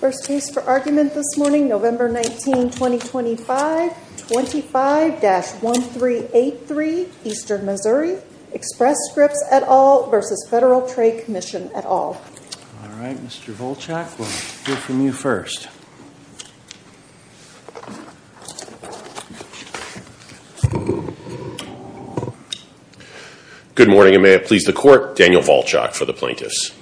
First case for argument this morning, November 19, 2025, 25-1383, Eastern Missouri. Express Scripts, et al. v. Federal Trade Commission, et al. All right, Mr. Volchak, we'll hear from you first. Good morning, and may it please the Court, Daniel Volchak for the Plaintiffs.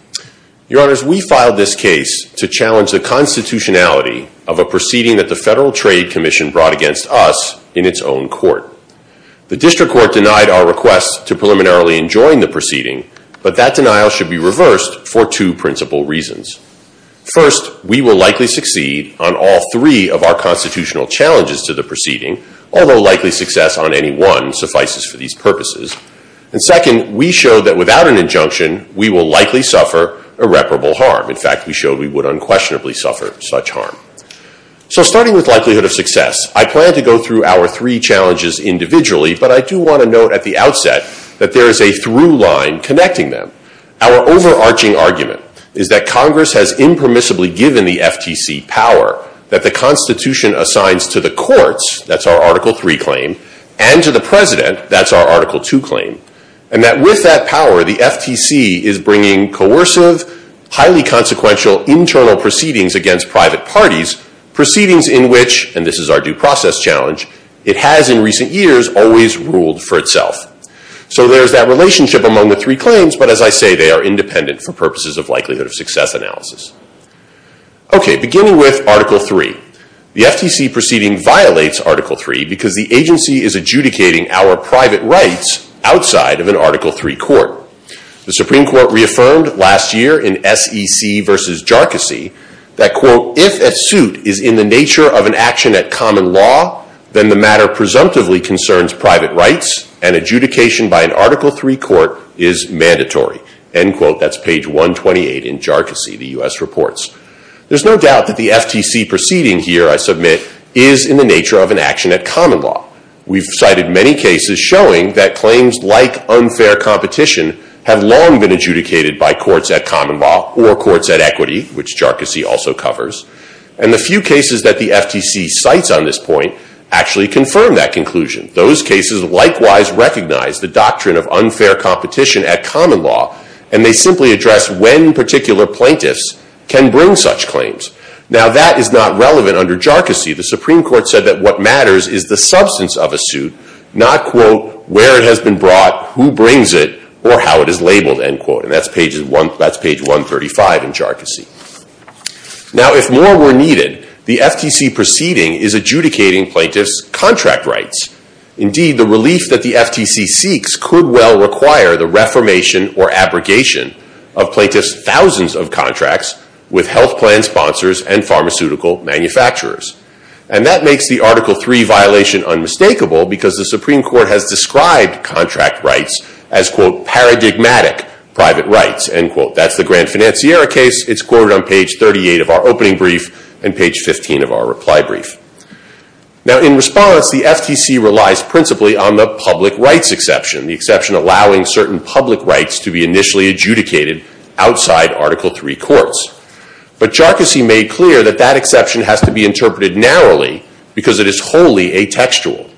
Your Honors, we filed this case to challenge the constitutionality of a proceeding that the Federal Trade Commission brought against us in its own court. The District Court denied our request to preliminarily enjoin the proceeding, but that denial should be reversed for two principal reasons. First, we will likely succeed on all three of our constitutional challenges to the proceeding, although likely success on any one suffices for these purposes. And second, we showed that without an injunction, we will likely suffer irreparable harm. In fact, we showed we would unquestionably suffer such harm. So starting with likelihood of success, I plan to go through our three challenges individually, but I do want to note at the outset that there is a through line connecting them. Our overarching argument is that Congress has impermissibly given the FTC power that the Constitution assigns to the courts, that's our Article III claim, and to the President, that's our Article II claim. And that with that power, the FTC is bringing coercive, highly consequential internal proceedings against private parties, proceedings in which, and this is our due process challenge, it has in recent years always ruled for itself. So there's that relationship among the three claims, but as I say, they are independent for purposes of likelihood of success analysis. Okay, beginning with Article III. The FTC proceeding violates Article III because the agency is adjudicating our private rights outside of an Article III court. The Supreme Court reaffirmed last year in SEC v. Jarkissi that, quote, adjudication by an Article III court is mandatory. End quote. That's page 128 in Jarkissi, the U.S. reports. There's no doubt that the FTC proceeding here, I submit, is in the nature of an action at common law. We've cited many cases showing that claims like unfair competition have long been adjudicated by courts at common law or courts at equity, which Jarkissi also covers. And the few cases that the FTC cites on this point actually confirm that conclusion. Those cases likewise recognize the doctrine of unfair competition at common law, and they simply address when particular plaintiffs can bring such claims. Now, that is not relevant under Jarkissi. The Supreme Court said that what matters is the substance of a suit, not, quote, where it has been brought, who brings it, or how it is labeled, end quote. And that's page 135 in Jarkissi. Now, if more were needed, the FTC proceeding is adjudicating plaintiffs' contract rights. Indeed, the relief that the FTC seeks could well require the reformation or abrogation of plaintiffs' thousands of contracts with health plan sponsors and pharmaceutical manufacturers. And that makes the Article III violation unmistakable because the Supreme Court has described contract rights as, quote, paradigmatic private rights, end quote. That's the Grand Financiera case. It's quoted on page 38 of our opening brief and page 15 of our reply brief. Now, in response, the FTC relies principally on the public rights exception, the exception allowing certain public rights to be initially adjudicated outside Article III courts. But Jarkissi made clear that that exception has to be interpreted narrowly because it is wholly atextual.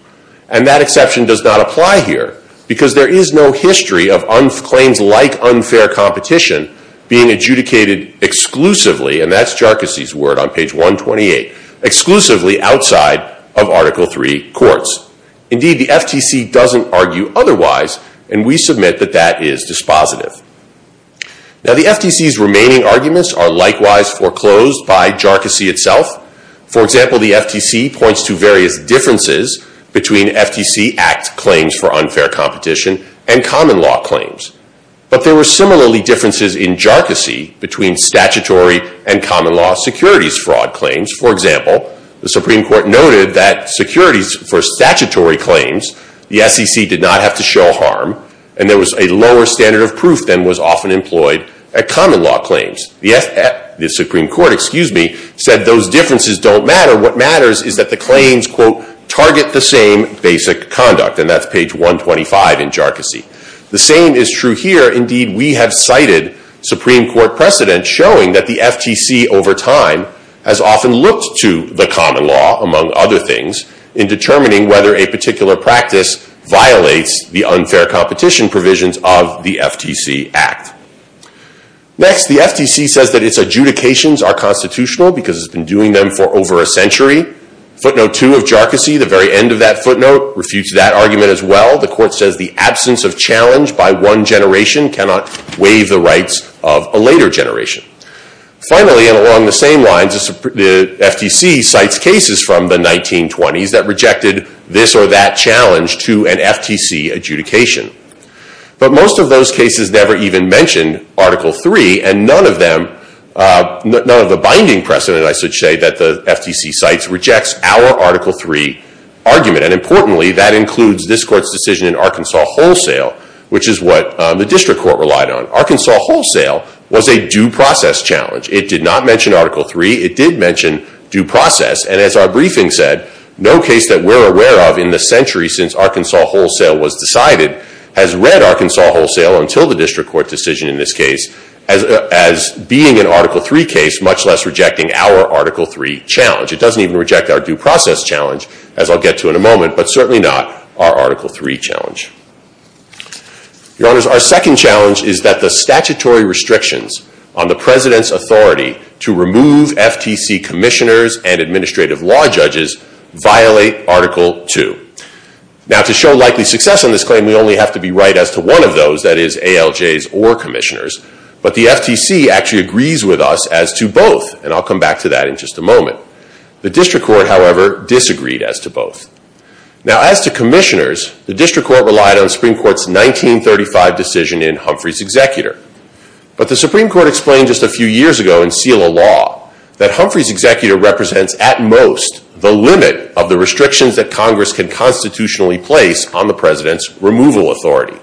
And that exception does not apply here because there is no history of claims like unfair competition being adjudicated exclusively, and that's Jarkissi's word on page 128, exclusively outside of Article III courts. Indeed, the FTC doesn't argue otherwise, and we submit that that is dispositive. Now, the FTC's remaining arguments are likewise foreclosed by Jarkissi itself. For example, the FTC points to various differences between FTC Act claims for unfair competition and common law claims. But there were similarly differences in Jarkissi between statutory and common law securities fraud claims. For example, the Supreme Court noted that securities for statutory claims, the SEC did not have to show harm, and there was a lower standard of proof than was often employed at common law claims. The Supreme Court, excuse me, said those differences don't matter. What matters is that the claims, quote, target the same basic conduct, and that's page 125 in Jarkissi. The same is true here. Indeed, we have cited Supreme Court precedent showing that the FTC over time has often looked to the common law, among other things, in determining whether a particular practice violates the unfair competition provisions of the FTC Act. Next, the FTC says that its adjudications are constitutional because it's been doing them for over a century. Footnote 2 of Jarkissi, the very end of that footnote, refutes that argument as well. The court says the absence of challenge by one generation cannot waive the rights of a later generation. Finally, and along the same lines, the FTC cites cases from the 1920s that rejected this or that challenge to an FTC adjudication. But most of those cases never even mentioned Article III, and none of them, none of the binding precedent, I should say, that the FTC cites rejects our Article III argument. And importantly, that includes this court's decision in Arkansas Wholesale, which is what the district court relied on. Arkansas Wholesale was a due process challenge. It did not mention Article III. It did mention due process. And as our briefing said, no case that we're aware of in the century since Arkansas Wholesale was decided has read Arkansas Wholesale until the district court decision in this case as being an Article III case, much less rejecting our Article III challenge. It doesn't even reject our due process challenge, as I'll get to in a moment, but certainly not our Article III challenge. Your Honors, our second challenge is that the statutory restrictions on the President's authority to remove FTC commissioners and administrative law judges violate Article II. Now, to show likely success on this claim, we only have to be right as to one of those, that is, ALJs or commissioners. But the FTC actually agrees with us as to both, and I'll come back to that in just a moment. The district court, however, disagreed as to both. Now, as to commissioners, the district court relied on the Supreme Court's 1935 decision in Humphrey's Executor. But the Supreme Court explained just a few years ago in Selah Law that Humphrey's Executor represents, at most, the limit of the restrictions that Congress can constitutionally place on the President's removal authority.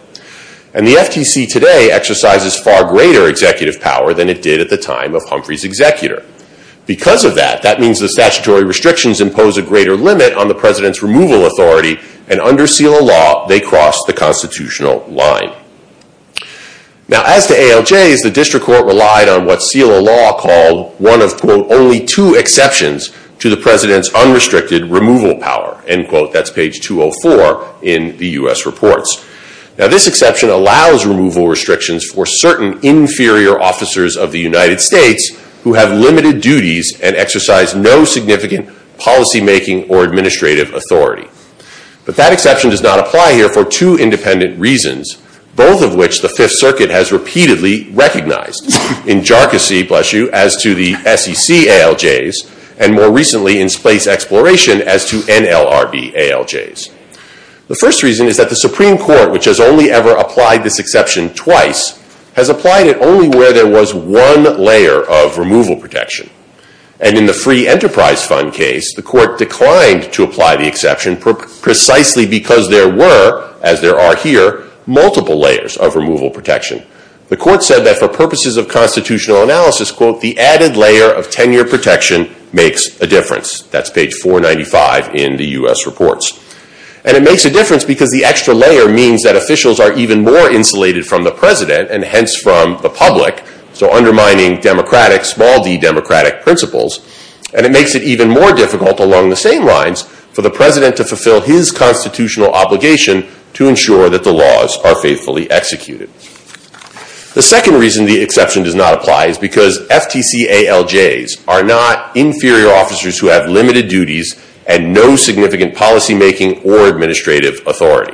And the FTC today exercises far greater executive power than it did at the time of Humphrey's Executor. Because of that, that means the statutory restrictions impose a greater limit on the President's removal authority, and under Selah Law, they cross the constitutional line. Now, as to ALJs, the district court relied on what Selah Law called one of, quote, only two exceptions to the President's unrestricted removal power, end quote. That's page 204 in the U.S. Reports. Now, this exception allows removal restrictions for certain inferior officers of the United States who have limited duties and exercise no significant policymaking or administrative authority. But that exception does not apply here for two independent reasons, both of which the Fifth Circuit has repeatedly recognized, in jarcossy, bless you, as to the SEC ALJs, and more recently in space exploration as to NLRB ALJs. The first reason is that the Supreme Court, which has only ever applied this exception twice, has applied it only where there was one layer of removal protection. And in the Free Enterprise Fund case, the court declined to apply the exception precisely because there were, as there are here, multiple layers of removal protection. The court said that for purposes of constitutional analysis, quote, the added layer of tenure protection makes a difference. That's page 495 in the U.S. Reports. And it makes a difference because the extra layer means that officials are even more insulated from the president and hence from the public, so undermining democratic, small-D democratic principles. And it makes it even more difficult along the same lines for the president to fulfill his constitutional obligation to ensure that the laws are faithfully executed. The second reason the exception does not apply is because FTC ALJs are not inferior officers who have limited duties and no significant policymaking or administrative authority.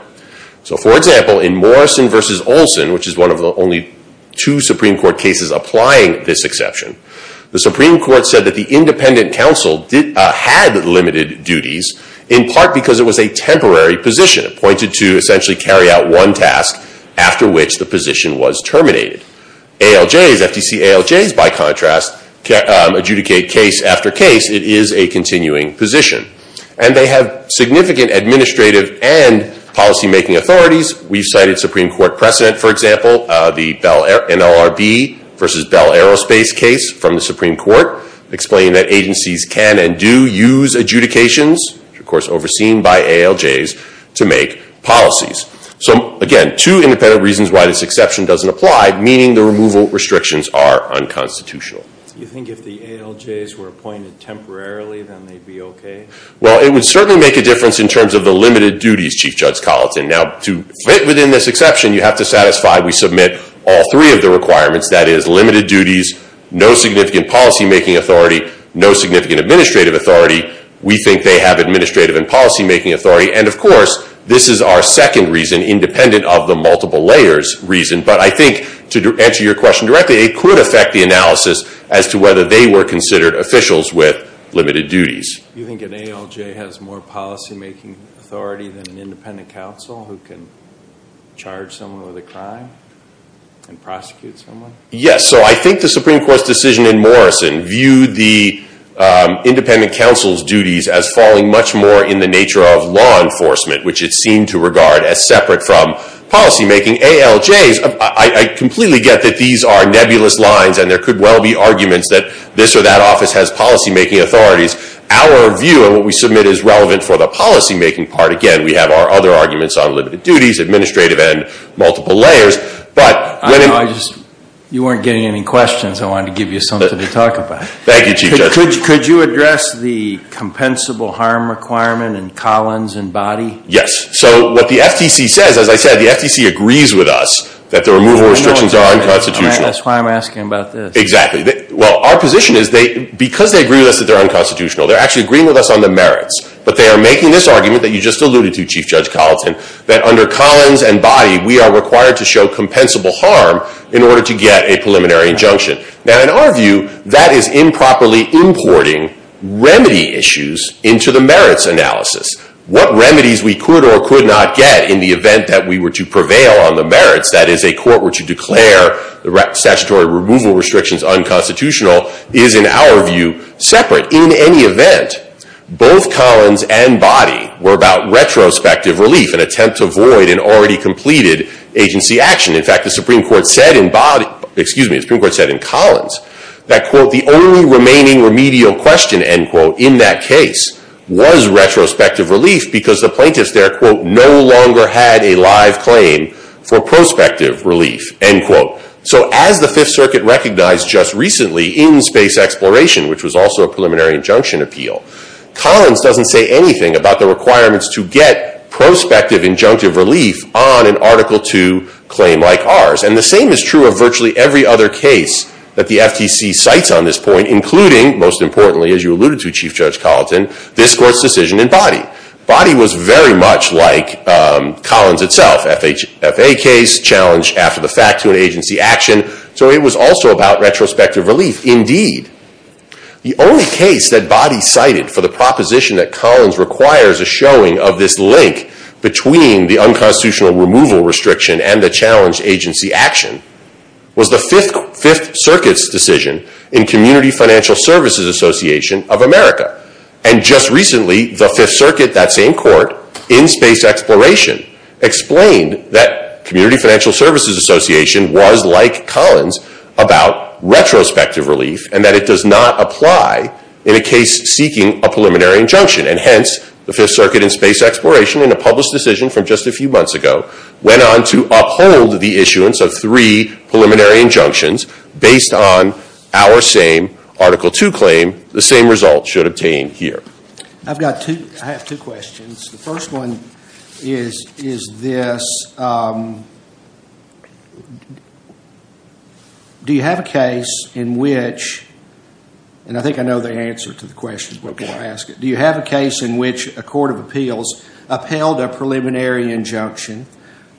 So, for example, in Morrison v. Olson, which is one of the only two Supreme Court cases applying this exception, the Supreme Court said that the independent counsel had limited duties in part because it was a temporary position appointed to essentially carry out one task after which the position was terminated. ALJs, FTC ALJs, by contrast, adjudicate case after case. It is a continuing position. And they have significant administrative and policymaking authorities. We've cited Supreme Court precedent, for example, the NLRB v. Bell Aerospace case from the Supreme Court, explaining that agencies can and do use adjudications, of course overseen by ALJs, to make policies. So, again, two independent reasons why this exception doesn't apply, meaning the removal restrictions are unconstitutional. Do you think if the ALJs were appointed temporarily, then they'd be okay? Well, it would certainly make a difference in terms of the limited duties, Chief Judge Colleton. Now, to fit within this exception, you have to satisfy we submit all three of the requirements, that is limited duties, no significant policymaking authority, no significant administrative authority. We think they have administrative and policymaking authority. And, of course, this is our second reason, independent of the multiple layers reason. But I think, to answer your question directly, it could affect the analysis as to whether they were considered officials with limited duties. Do you think an ALJ has more policymaking authority than an independent counsel who can charge someone with a crime and prosecute someone? Yes. So I think the Supreme Court's decision in Morrison viewed the independent counsel's duties as falling much more in the nature of law enforcement, which it seemed to regard as separate from policymaking. ALJs, I completely get that these are nebulous lines, and there could well be arguments that this or that office has policymaking authorities. Our view of what we submit is relevant for the policymaking part. Again, we have our other arguments on limited duties, administrative, and multiple layers. You weren't getting any questions. I wanted to give you something to talk about. Thank you, Chief Judge. Could you address the compensable harm requirement in Collins and Boddy? Yes. So what the FTC says, as I said, the FTC agrees with us that the removal restrictions are unconstitutional. That's why I'm asking about this. Exactly. Well, our position is because they agree with us that they're unconstitutional, they're actually agreeing with us on the merits. But they are making this argument that you just alluded to, Chief Judge Colleton, that under Collins and Boddy, we are required to show compensable harm in order to get a preliminary injunction. Now, in our view, that is improperly importing remedy issues into the merits analysis. What remedies we could or could not get in the event that we were to prevail on the merits, that is, a court were to declare statutory removal restrictions unconstitutional, is, in our view, separate. But in any event, both Collins and Boddy were about retrospective relief, an attempt to avoid an already completed agency action. In fact, the Supreme Court said in Boddy, excuse me, the Supreme Court said in Collins, that, quote, the only remaining remedial question, end quote, in that case was retrospective relief because the plaintiffs there, quote, no longer had a live claim for prospective relief, end quote. So as the Fifth Circuit recognized just recently in Space Exploration, which was also a preliminary injunction appeal, Collins doesn't say anything about the requirements to get prospective injunctive relief on an Article II claim like ours. And the same is true of virtually every other case that the FTC cites on this point, including, most importantly, as you alluded to, Chief Judge Colleton, this court's decision in Boddy. Boddy was very much like Collins itself, FHA case, challenge after the fact to an agency action. So it was also about retrospective relief, indeed. The only case that Boddy cited for the proposition that Collins requires a showing of this link between the unconstitutional removal restriction and the challenged agency action was the Fifth Circuit's decision in Community Financial Services Association of America. And just recently, the Fifth Circuit, that same court, in Space Exploration, explained that Community Financial Services Association was like Collins about retrospective relief and that it does not apply in a case seeking a preliminary injunction. And hence, the Fifth Circuit in Space Exploration, in a published decision from just a few months ago, went on to uphold the issuance of three preliminary injunctions based on our same Article II claim, the same result should obtain here. I have two questions. The first one is this. Do you have a case in which, and I think I know the answer to the question before I ask it, do you have a case in which a court of appeals upheld a preliminary injunction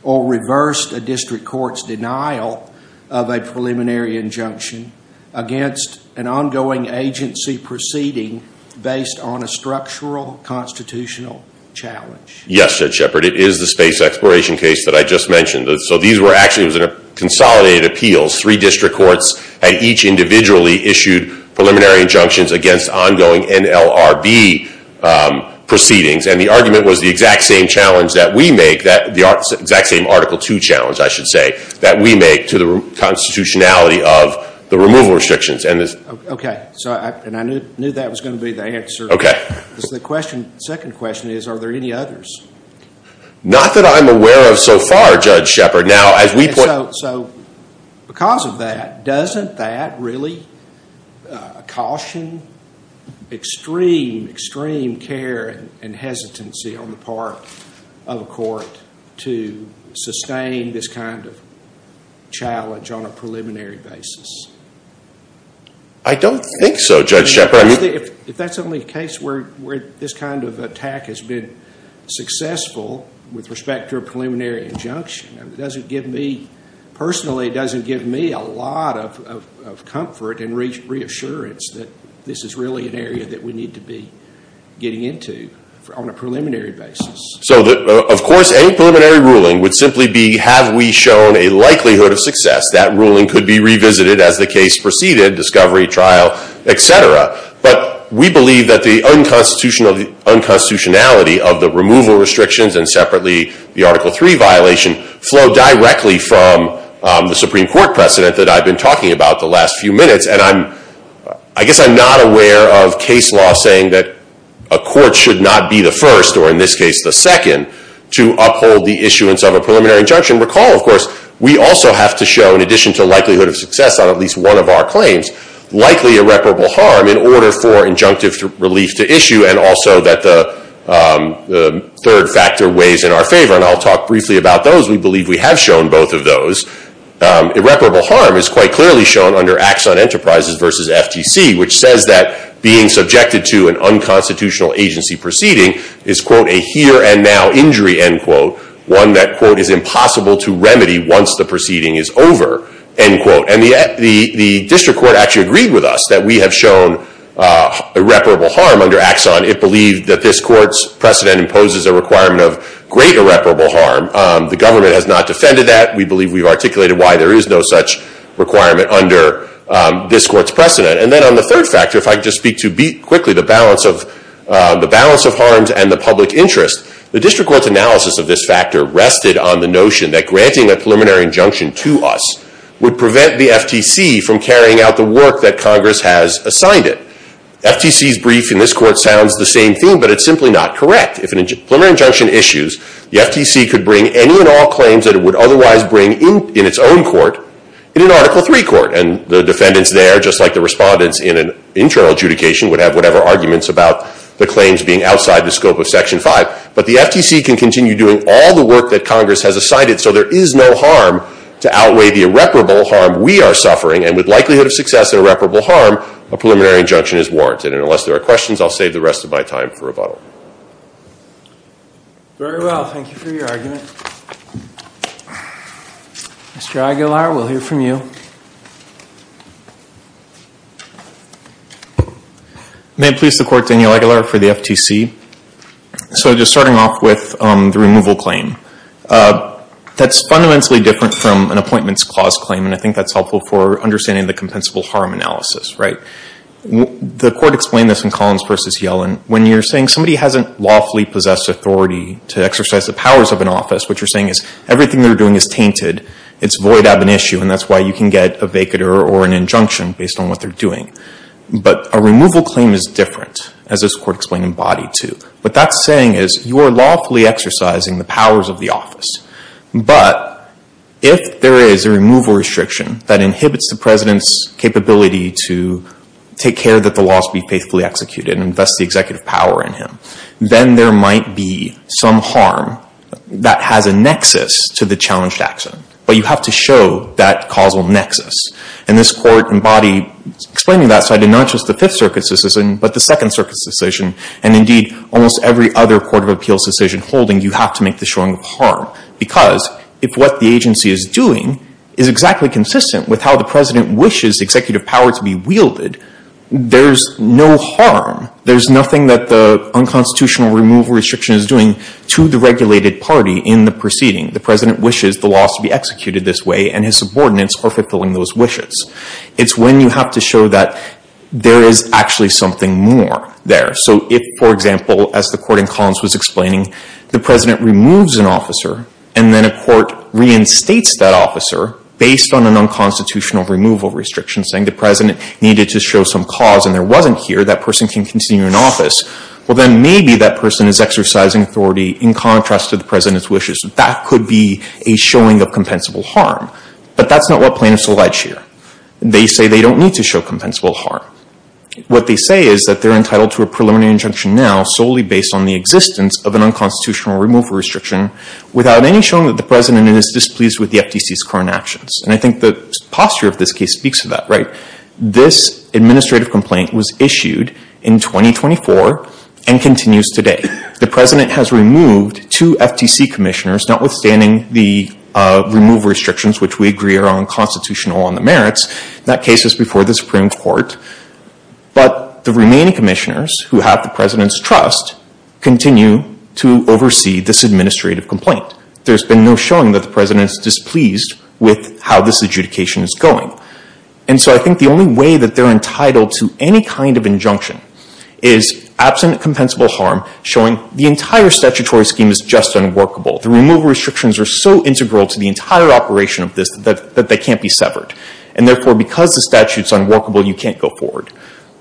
or reversed a district court's denial of a preliminary injunction against an ongoing agency proceeding based on a structural constitutional challenge? Yes, Judge Shepard. It is the Space Exploration case that I just mentioned. So these were actually consolidated appeals. Three district courts had each individually issued preliminary injunctions against ongoing NLRB proceedings. And the argument was the exact same challenge that we make, the exact same Article II challenge, I should say, that we make to the constitutionality of the removal restrictions. Okay. And I knew that was going to be the answer. Okay. The second question is, are there any others? Not that I'm aware of so far, Judge Shepard. So because of that, doesn't that really caution extreme, extreme care and hesitancy on the part of a court to sustain this kind of challenge on a preliminary basis? I don't think so, Judge Shepard. If that's only the case where this kind of attack has been successful with respect to a preliminary injunction, it doesn't give me, personally, it doesn't give me a lot of comfort and reassurance that this is really an area that we need to be getting into on a preliminary basis. So, of course, any preliminary ruling would simply be, have we shown a likelihood of success? That ruling could be revisited as the case proceeded, discovery, trial, et cetera. But we believe that the unconstitutionality of the removal restrictions and separately the Article III violation flow directly from the Supreme Court precedent that I've been talking about the last few minutes. And I guess I'm not aware of case law saying that a court should not be the first, or in this case the second, to uphold the issuance of a preliminary injunction. Recall, of course, we also have to show, in addition to likelihood of success on at least one of our claims, likely irreparable harm in order for injunctive relief to issue and also that the third factor weighs in our favor. And I'll talk briefly about those. We believe we have shown both of those. Irreparable harm is quite clearly shown under Axon Enterprises versus FTC, which says that being subjected to an unconstitutional agency proceeding is, quote, a here and now injury, end quote, one that, quote, is impossible to remedy once the proceeding is over, end quote. And the district court actually agreed with us that we have shown irreparable harm under Axon. It believed that this court's precedent imposes a requirement of great irreparable harm. The government has not defended that. We believe we've articulated why there is no such requirement under this court's precedent. And then on the third factor, if I could just speak to quickly the balance of harms and the public interest, the district court's analysis of this factor rested on the notion that granting a preliminary injunction to us would prevent the FTC from carrying out the work that Congress has assigned it. FTC's brief in this court sounds the same thing, but it's simply not correct. If a preliminary injunction issues, the FTC could bring any and all claims that it would otherwise bring in its own court in an Article III court. And the defendants there, just like the respondents in an internal adjudication, would have whatever arguments about the claims being outside the scope of Section 5. But the FTC can continue doing all the work that Congress has assigned it, so there is no harm to outweigh the irreparable harm we are suffering. And with likelihood of success in irreparable harm, a preliminary injunction is warranted. And unless there are questions, I'll save the rest of my time for rebuttal. Very well. Thank you for your argument. Mr. Aguilar, we'll hear from you. May it please the Court, Daniel Aguilar for the FTC. So just starting off with the removal claim. That's fundamentally different from an Appointments Clause claim, and I think that's helpful for understanding the compensable harm analysis, right? The Court explained this in Collins v. Yellen. When you're saying somebody hasn't lawfully possessed authority to exercise the powers of an office, what you're saying is everything they're doing is tainted, it's void of an issue, and that's why you can get a vacater or an injunction based on what they're doing. But a removal claim is different, as this Court explained in Boddy too. What that's saying is you are lawfully exercising the powers of the office, but if there is a removal restriction that inhibits the President's capability to take care that the laws be faithfully executed and thus the executive power in him, then there might be some harm that has a nexus to the challenged action. But you have to show that causal nexus. And this Court in Boddy is explaining that side in not just the Fifth Circuit's decision, but the Second Circuit's decision, and indeed almost every other court of appeals decision holding, you have to make the showing of harm. Because if what the agency is doing is exactly consistent with how the President wishes executive power to be wielded, there's no harm. There's nothing that the unconstitutional removal restriction is doing to the regulated party in the proceeding. The President wishes the laws to be executed this way and his subordinates are fulfilling those wishes. It's when you have to show that there is actually something more there. So if, for example, as the Court in Collins was explaining, the President removes an officer and then a court reinstates that officer based on an unconstitutional removal restriction, saying the President needed to show some cause and there wasn't here, that person can continue in office, well then maybe that person is exercising authority in contrast to the President's wishes. That could be a showing of compensable harm. But that's not what plaintiffs allege here. They say they don't need to show compensable harm. What they say is that they're entitled to a preliminary injunction now solely based on the existence of an unconstitutional removal restriction without any showing that the President is displeased with the FTC's current actions. And I think the posture of this case speaks to that, right? This administrative complaint was issued in 2024 and continues today. The President has removed two FTC commissioners, notwithstanding the removal restrictions, which we agree are unconstitutional on the merits. That case was before the Supreme Court. But the remaining commissioners who have the President's trust continue to oversee this administrative complaint. There's been no showing that the President is displeased with how this adjudication is going. And so I think the only way that they're entitled to any kind of injunction is, absent compensable harm, showing the entire statutory scheme is just unworkable. The removal restrictions are so integral to the entire operation of this that they can't be severed. And therefore, because the statute's unworkable, you can't go forward.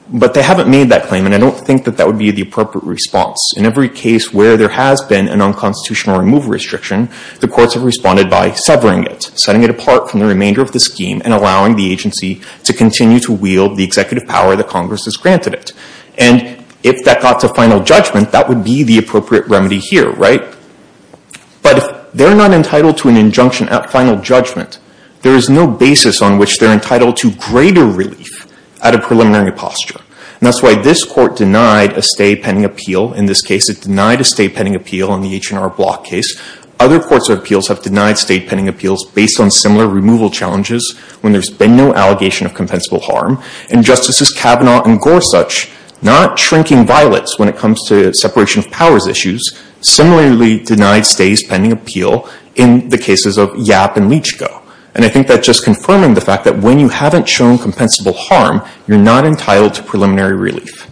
But they haven't made that claim, and I don't think that that would be the appropriate response. In every case where there has been an unconstitutional removal restriction, the courts have responded by severing it, setting it apart from the remainder of the scheme, and allowing the agency to continue to wield the executive power that Congress has granted it. And if that got to final judgment, that would be the appropriate remedy here, right? But if they're not entitled to an injunction at final judgment, there is no basis on which they're entitled to greater relief at a preliminary posture. And that's why this Court denied a stay pending appeal in this case. It denied a stay pending appeal in the H&R Block case. Other courts of appeals have denied stay pending appeals based on similar removal challenges when there's been no allegation of compensable harm. And Justices Kavanaugh and Gorsuch, not shrinking violets when it comes to separation of powers issues, similarly denied stays pending appeal in the cases of Yap and Leachco. And I think that's just confirming the fact that when you haven't shown compensable harm, you're not entitled to preliminary relief.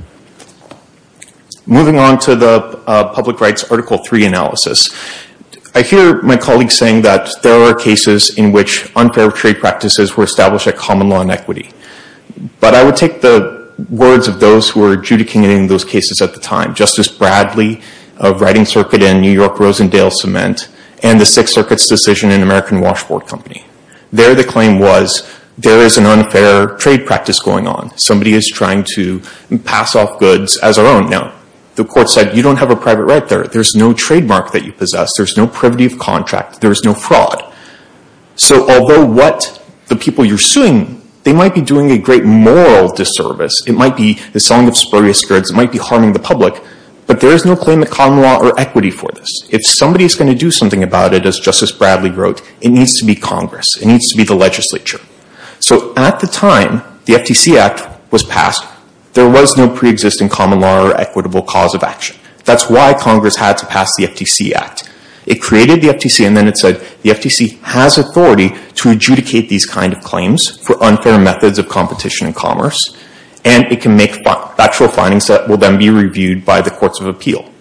Moving on to the Public Rights Article 3 analysis, I hear my colleagues saying that there are cases in which unfair trade practices were established at common law and equity. But I would take the words of those who were adjudicating those cases at the time, Justice Bradley of Writing Circuit in New York, Rosendale Cement, and the Sixth Circuit's decision in American Washboard Company. There the claim was, there is an unfair trade practice going on. Somebody is trying to pass off goods as our own. Now, the Court said, you don't have a private right there. There's no trademark that you possess. There's no privity of contract. There's no fraud. So although what the people you're suing, they might be doing a great moral disservice. It might be the selling of spurious goods. It might be harming the public. But there is no claim to common law or equity for this. If somebody is going to do something about it, as Justice Bradley wrote, it needs to be Congress. It needs to be the legislature. So at the time the FTC Act was passed, there was no preexisting common law or equitable cause of action. That's why Congress had to pass the FTC Act. It created the FTC and then it said, the FTC has authority to adjudicate these kind of claims for unfair methods of competition and commerce. And it can make factual findings that will then be reviewed by the Courts of Appeal.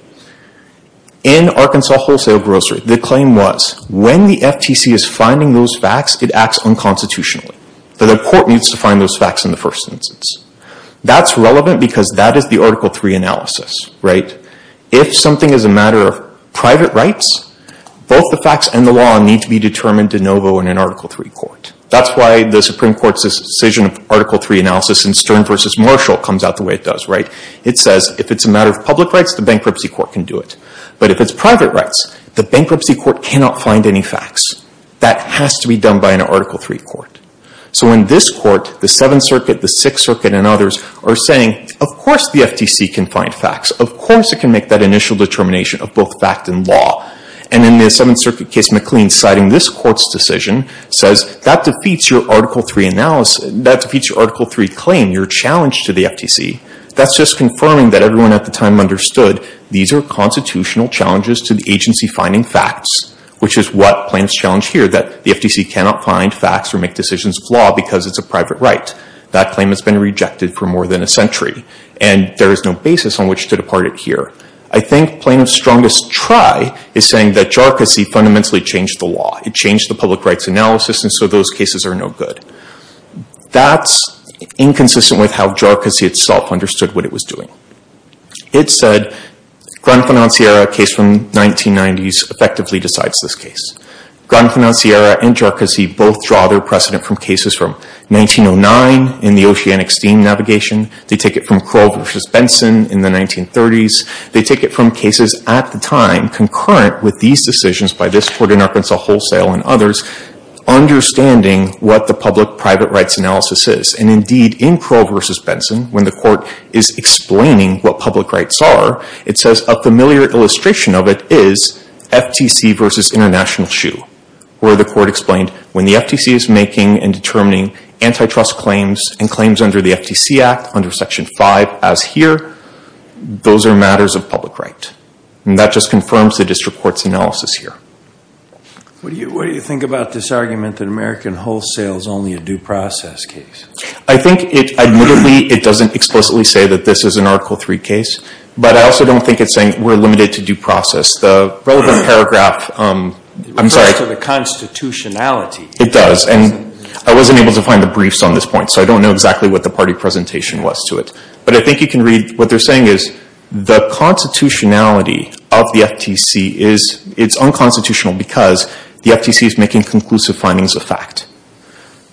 In Arkansas Wholesale Grocery, the claim was, when the FTC is finding those facts, it acts unconstitutionally. So the Court needs to find those facts in the first instance. That's relevant because that is the Article III analysis, right? If something is a matter of private rights, both the facts and the law need to be determined de novo in an Article III court. That's why the Supreme Court's decision of Article III analysis in Stearns v. Marshall comes out the way it does, right? It says, if it's a matter of public rights, the Bankruptcy Court can do it. But if it's private rights, the Bankruptcy Court cannot find any facts. That has to be done by an Article III court. So in this court, the Seventh Circuit, the Sixth Circuit, and others are saying, of course the FTC can find facts. Of course it can make that initial determination of both fact and law. And in the Seventh Circuit case, McLean, citing this court's decision, says that defeats your Article III analysis, that defeats your Article III claim, your challenge to the FTC. That's just confirming that everyone at the time understood these are constitutional challenges to the agency finding facts, which is what claims challenge here, that the FTC cannot find facts or make decisions of law because it's a private right. That claim has been rejected for more than a century. And there is no basis on which to depart it here. I think plaintiff's strongest try is saying that JARCASI fundamentally changed the law. It changed the public rights analysis, and so those cases are no good. That's inconsistent with how JARCASI itself understood what it was doing. It said, Gran Financiera, a case from the 1990s, effectively decides this case. Gran Financiera and JARCASI both draw their precedent from cases from 1909 in the oceanic steam navigation. They take it from Crow versus Benson in the 1930s. They take it from cases at the time concurrent with these decisions by this court in Arkansas Wholesale and others, understanding what the public-private rights analysis is. And indeed, in Crow versus Benson, when the court is explaining what public rights are, it says a familiar illustration of it is FTC versus international shoe, where the court explained when the FTC is making and determining antitrust claims and claims under the FTC Act, under Section 5, as here, those are matters of public right. And that just confirms the district court's analysis here. What do you think about this argument that American Wholesale is only a due process case? I think, admittedly, it doesn't explicitly say that this is an Article III case, but I also don't think it's saying we're limited to due process. The relevant paragraph, I'm sorry. It refers to the constitutionality. It does, and I wasn't able to find the briefs on this point, so I don't know exactly what the party presentation was to it. But I think you can read what they're saying is the constitutionality of the FTC is it's unconstitutional because the FTC is making conclusive findings of fact.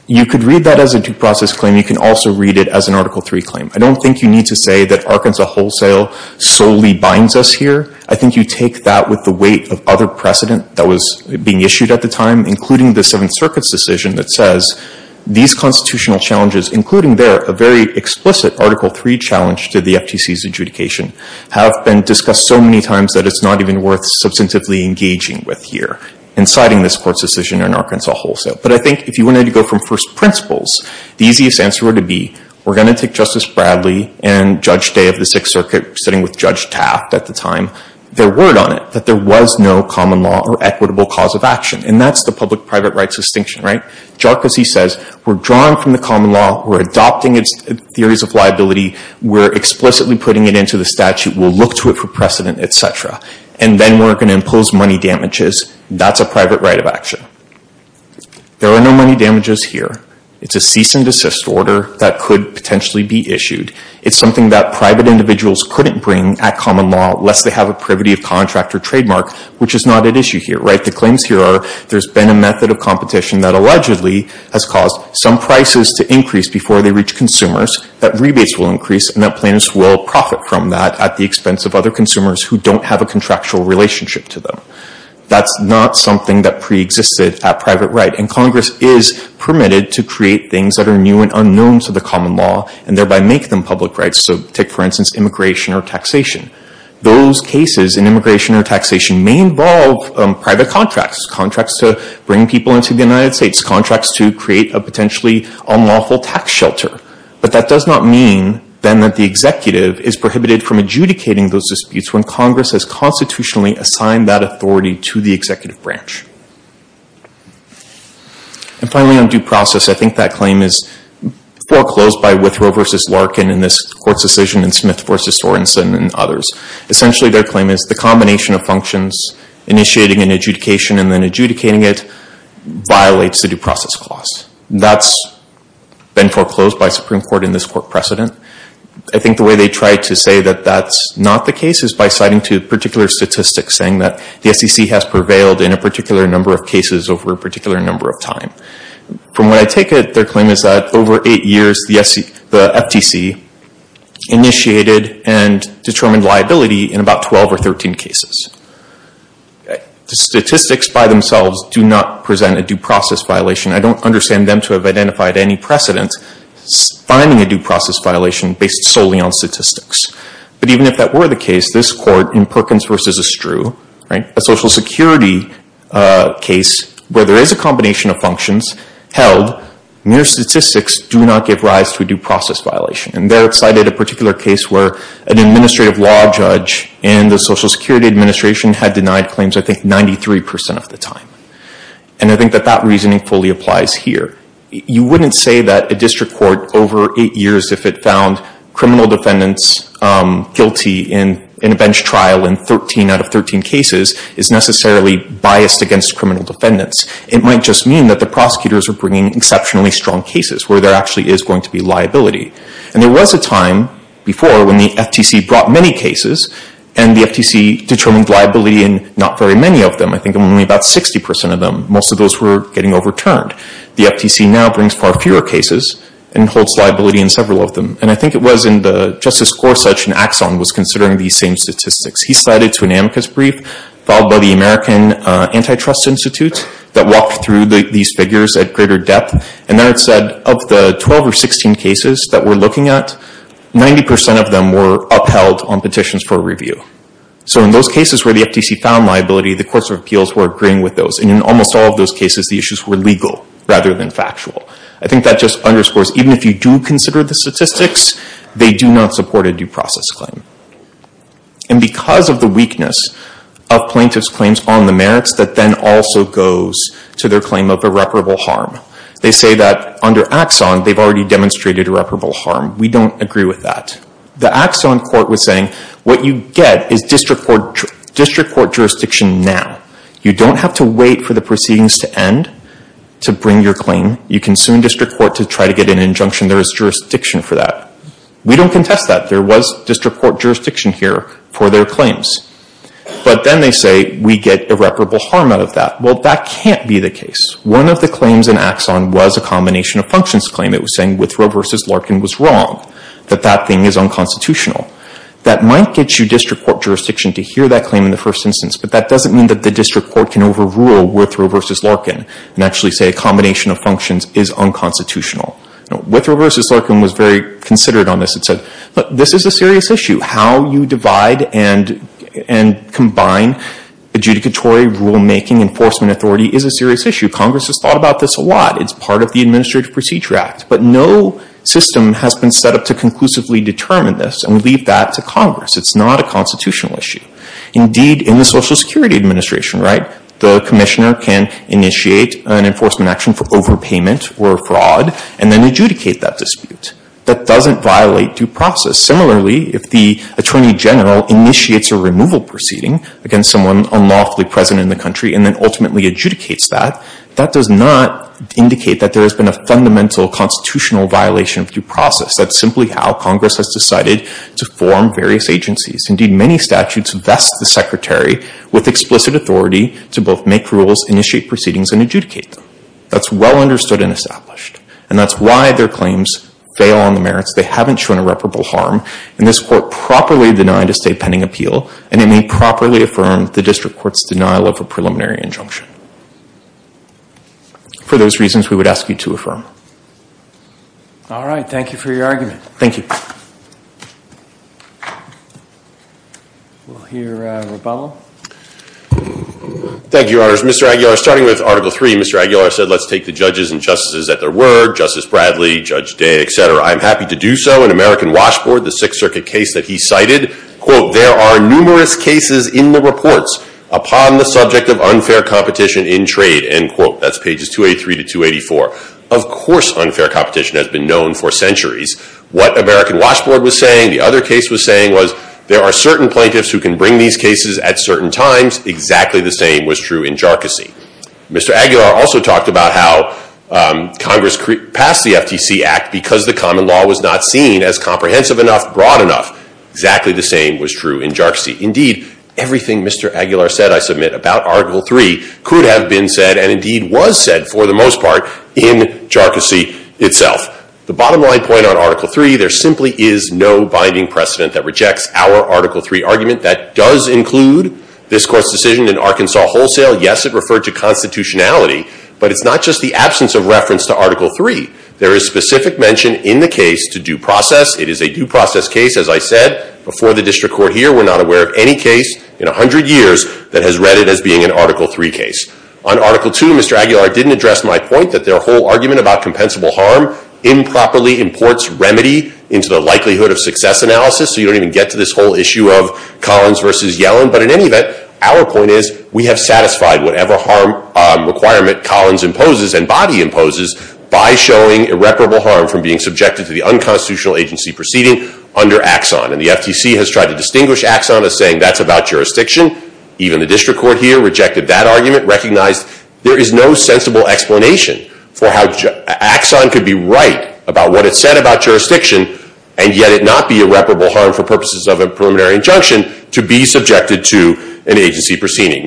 You could read that as a due process claim. You can also read it as an Article III claim. I don't think you need to say that Arkansas Wholesale solely binds us here. I think you take that with the weight of other precedent that was being issued at the time, including the Seventh Circuit's decision that says these constitutional challenges, including there, a very explicit Article III challenge to the FTC's adjudication, have been discussed so many times that it's not even worth substantively engaging with here, inciting this court's decision in Arkansas Wholesale. But I think if you wanted to go from first principles, the easiest answer would be we're going to take Justice Bradley and Judge Day of the Sixth Circuit, sitting with Judge Taft at the time, their word on it, that there was no common law or equitable cause of action. And that's the public-private rights distinction, right? Jarcusy says we're drawing from the common law, we're adopting its theories of liability, we're explicitly putting it into the statute, we'll look to it for precedent, etc. And then we're going to impose money damages. That's a private right of action. There are no money damages here. It's a cease and desist order that could potentially be issued. It's something that private individuals couldn't bring at common law lest they have a privity of contract or trademark, which is not at issue here, right? The claims here are there's been a method of competition that allegedly has caused some prices to increase before they reach consumers, that rebates will increase, and that plaintiffs will profit from that at the expense of other consumers who don't have a contractual relationship to them. That's not something that preexisted at private right. And Congress is permitted to create things that are new and unknown to the common law and thereby make them public rights. So take, for instance, immigration or taxation. Those cases in immigration or taxation may involve private contracts, contracts to bring people into the United States, contracts to create a potentially unlawful tax shelter. But that does not mean then that the executive is prohibited from adjudicating those disputes when Congress has constitutionally assigned that authority to the executive branch. And finally, on due process, I think that claim is foreclosed by the Supreme Court's decision in Smith v. Sorensen and others. Essentially, their claim is the combination of functions, initiating an adjudication and then adjudicating it, violates the due process clause. That's been foreclosed by Supreme Court in this court precedent. I think the way they try to say that that's not the case is by citing two particular statistics saying that the SEC has prevailed in a particular number of cases over a particular number of time. From what I take it, their claim is that over eight years, the FTC initiated and determined liability in about 12 or 13 cases. The statistics by themselves do not present a due process violation. I don't understand them to have identified any precedent finding a due process violation based solely on statistics. But even if that were the case, this court in Perkins v. Estrue, a Social Security case where there is a combination of functions held, mere statistics do not give rise to a due process violation. And there it cited a particular case where an administrative law judge in the Social Security Administration had denied claims, I think, 93% of the time. And I think that that reasoning fully applies here. You wouldn't say that a district court over eight years, if it found criminal defendants guilty in a bench trial in 13 out of 13 cases, is necessarily biased against criminal defendants. It might just mean that the prosecutors are bringing exceptionally strong cases where there actually is going to be liability. And there was a time before when the FTC brought many cases, and the FTC determined liability in not very many of them. I think only about 60% of them. Most of those were getting overturned. The FTC now brings far fewer cases and holds liability in several of them. And I think it was in the Justice Gorsuch and Axon was considering these same statistics. He cited to an amicus brief filed by the American Antitrust Institute that walked through these figures at greater depth. And there it said of the 12 or 16 cases that we're looking at, 90% of them were upheld on petitions for review. So in those cases where the FTC found liability, the courts of appeals were agreeing with those. And in almost all of those cases, the issues were legal rather than factual. I think that just underscores, even if you do consider the statistics, they do not support a due process claim. And because of the weakness of plaintiff's claims on the merits, that then also goes to their claim of irreparable harm. They say that under Axon, they've already demonstrated irreparable harm. We don't agree with that. The Axon court was saying what you get is district court jurisdiction now. You don't have to wait for the proceedings to end to bring your claim. You can sue district court to try to get an injunction. There is jurisdiction for that. We don't contest that. There was district court jurisdiction here for their claims. But then they say we get irreparable harm out of that. Well, that can't be the case. One of the claims in Axon was a combination of functions claim. It was saying Withrow v. Larkin was wrong, that that thing is unconstitutional. That might get you district court jurisdiction to hear that claim in the first instance, but that doesn't mean that the district court can overrule Withrow v. Larkin and actually say a combination of functions is unconstitutional. Withrow v. Larkin was very considerate on this and said, look, this is a serious issue. How you divide and combine adjudicatory rulemaking, enforcement authority is a serious issue. Congress has thought about this a lot. It's part of the Administrative Procedure Act. But no system has been set up to conclusively determine this, and we leave that to Congress. It's not a constitutional issue. Indeed, in the Social Security Administration, right, the commissioner can initiate an enforcement action for overpayment or fraud and then adjudicate that dispute. That doesn't violate due process. Similarly, if the attorney general initiates a removal proceeding against someone unlawfully present in the country and then ultimately adjudicates that, that does not indicate that there has been a fundamental constitutional violation of due process. That's simply how Congress has decided to form various agencies. Indeed, many statutes vest the secretary with explicit authority to both make rules, initiate proceedings, and adjudicate them. That's well understood and established. And that's why their claims fail on the merits. They haven't shown irreparable harm. And this Court properly denied a state pending appeal, and it may properly affirm the District Court's denial of a preliminary injunction. For those reasons, we would ask you to affirm. All right. Thank you for your argument. Thank you. We'll hear Rebello. Thank you, Your Honors. Mr. Aguilar, starting with Article III, Mr. Aguilar said, let's take the judges and justices at their word, Justice Bradley, Judge Day, et cetera. I'm happy to do so. In American Washboard, the Sixth Circuit case that he cited, quote, there are numerous cases in the reports upon the subject of unfair competition in trade. End quote. That's pages 283 to 284. Of course unfair competition has been known for centuries. What American Washboard was saying, the other case was saying, was there are certain plaintiffs who can bring these cases at certain times. Exactly the same was true in Jharkhasi. Mr. Aguilar also talked about how Congress passed the FTC Act because the common law was not seen as comprehensive enough, broad enough. Exactly the same was true in Jharkhasi. Indeed, everything Mr. Aguilar said, I submit, about Article III could have been said, and indeed was said, for the most part, in Jharkhasi itself. The bottom line point on Article III, there simply is no binding precedent that rejects our Article III argument. That does include this Court's decision in Arkansas Wholesale. Yes, it referred to constitutionality, but it's not just the absence of reference to Article III. There is specific mention in the case to due process. It is a due process case, as I said, before the district court here. We're not aware of any case in 100 years that has read it as being an Article III case. On Article II, Mr. Aguilar didn't address my point that their whole argument about compensable harm improperly imports remedy into the likelihood of success analysis, so you don't even get to this whole issue of Collins versus Yellen. But in any event, our point is we have satisfied whatever harm requirement Collins imposes and body imposes by showing irreparable harm from being subjected to the unconstitutional agency proceeding under Axon. And the FTC has tried to distinguish Axon as saying that's about jurisdiction. Even the district court here rejected that argument, recognized there is no sensible explanation for how Axon could be right about what it said about jurisdiction and yet it not be irreparable harm for purposes of a preliminary injunction to be subjected to an agency proceeding,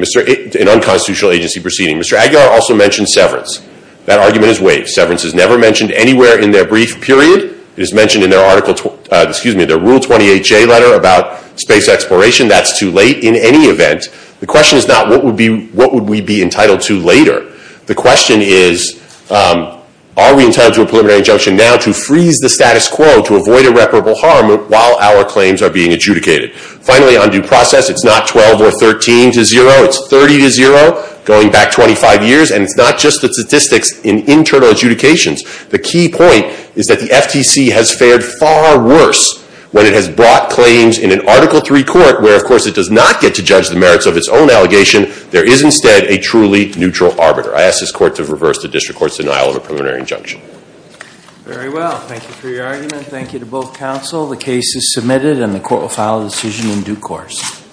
an unconstitutional agency proceeding. Mr. Aguilar also mentioned severance. That argument is waived. Severance is never mentioned anywhere in their brief period. It is mentioned in their Rule 28J letter about space exploration. That's too late in any event. The question is not what would we be entitled to later. The question is are we entitled to a preliminary injunction now to freeze the status quo to avoid irreparable harm while our claims are being adjudicated. Finally, on due process, it's not 12 or 13 to zero. It's 30 to zero going back 25 years, and it's not just the statistics in internal adjudications. The key point is that the FTC has fared far worse when it has brought claims in an Article III court where, of course, it does not get to judge the merits of its own allegation. There is instead a truly neutral arbiter. I ask this Court to reverse the district court's denial of a preliminary injunction. Very well. Thank you for your argument. Thank you to both counsel. The case is submitted and the court will file a decision in due course.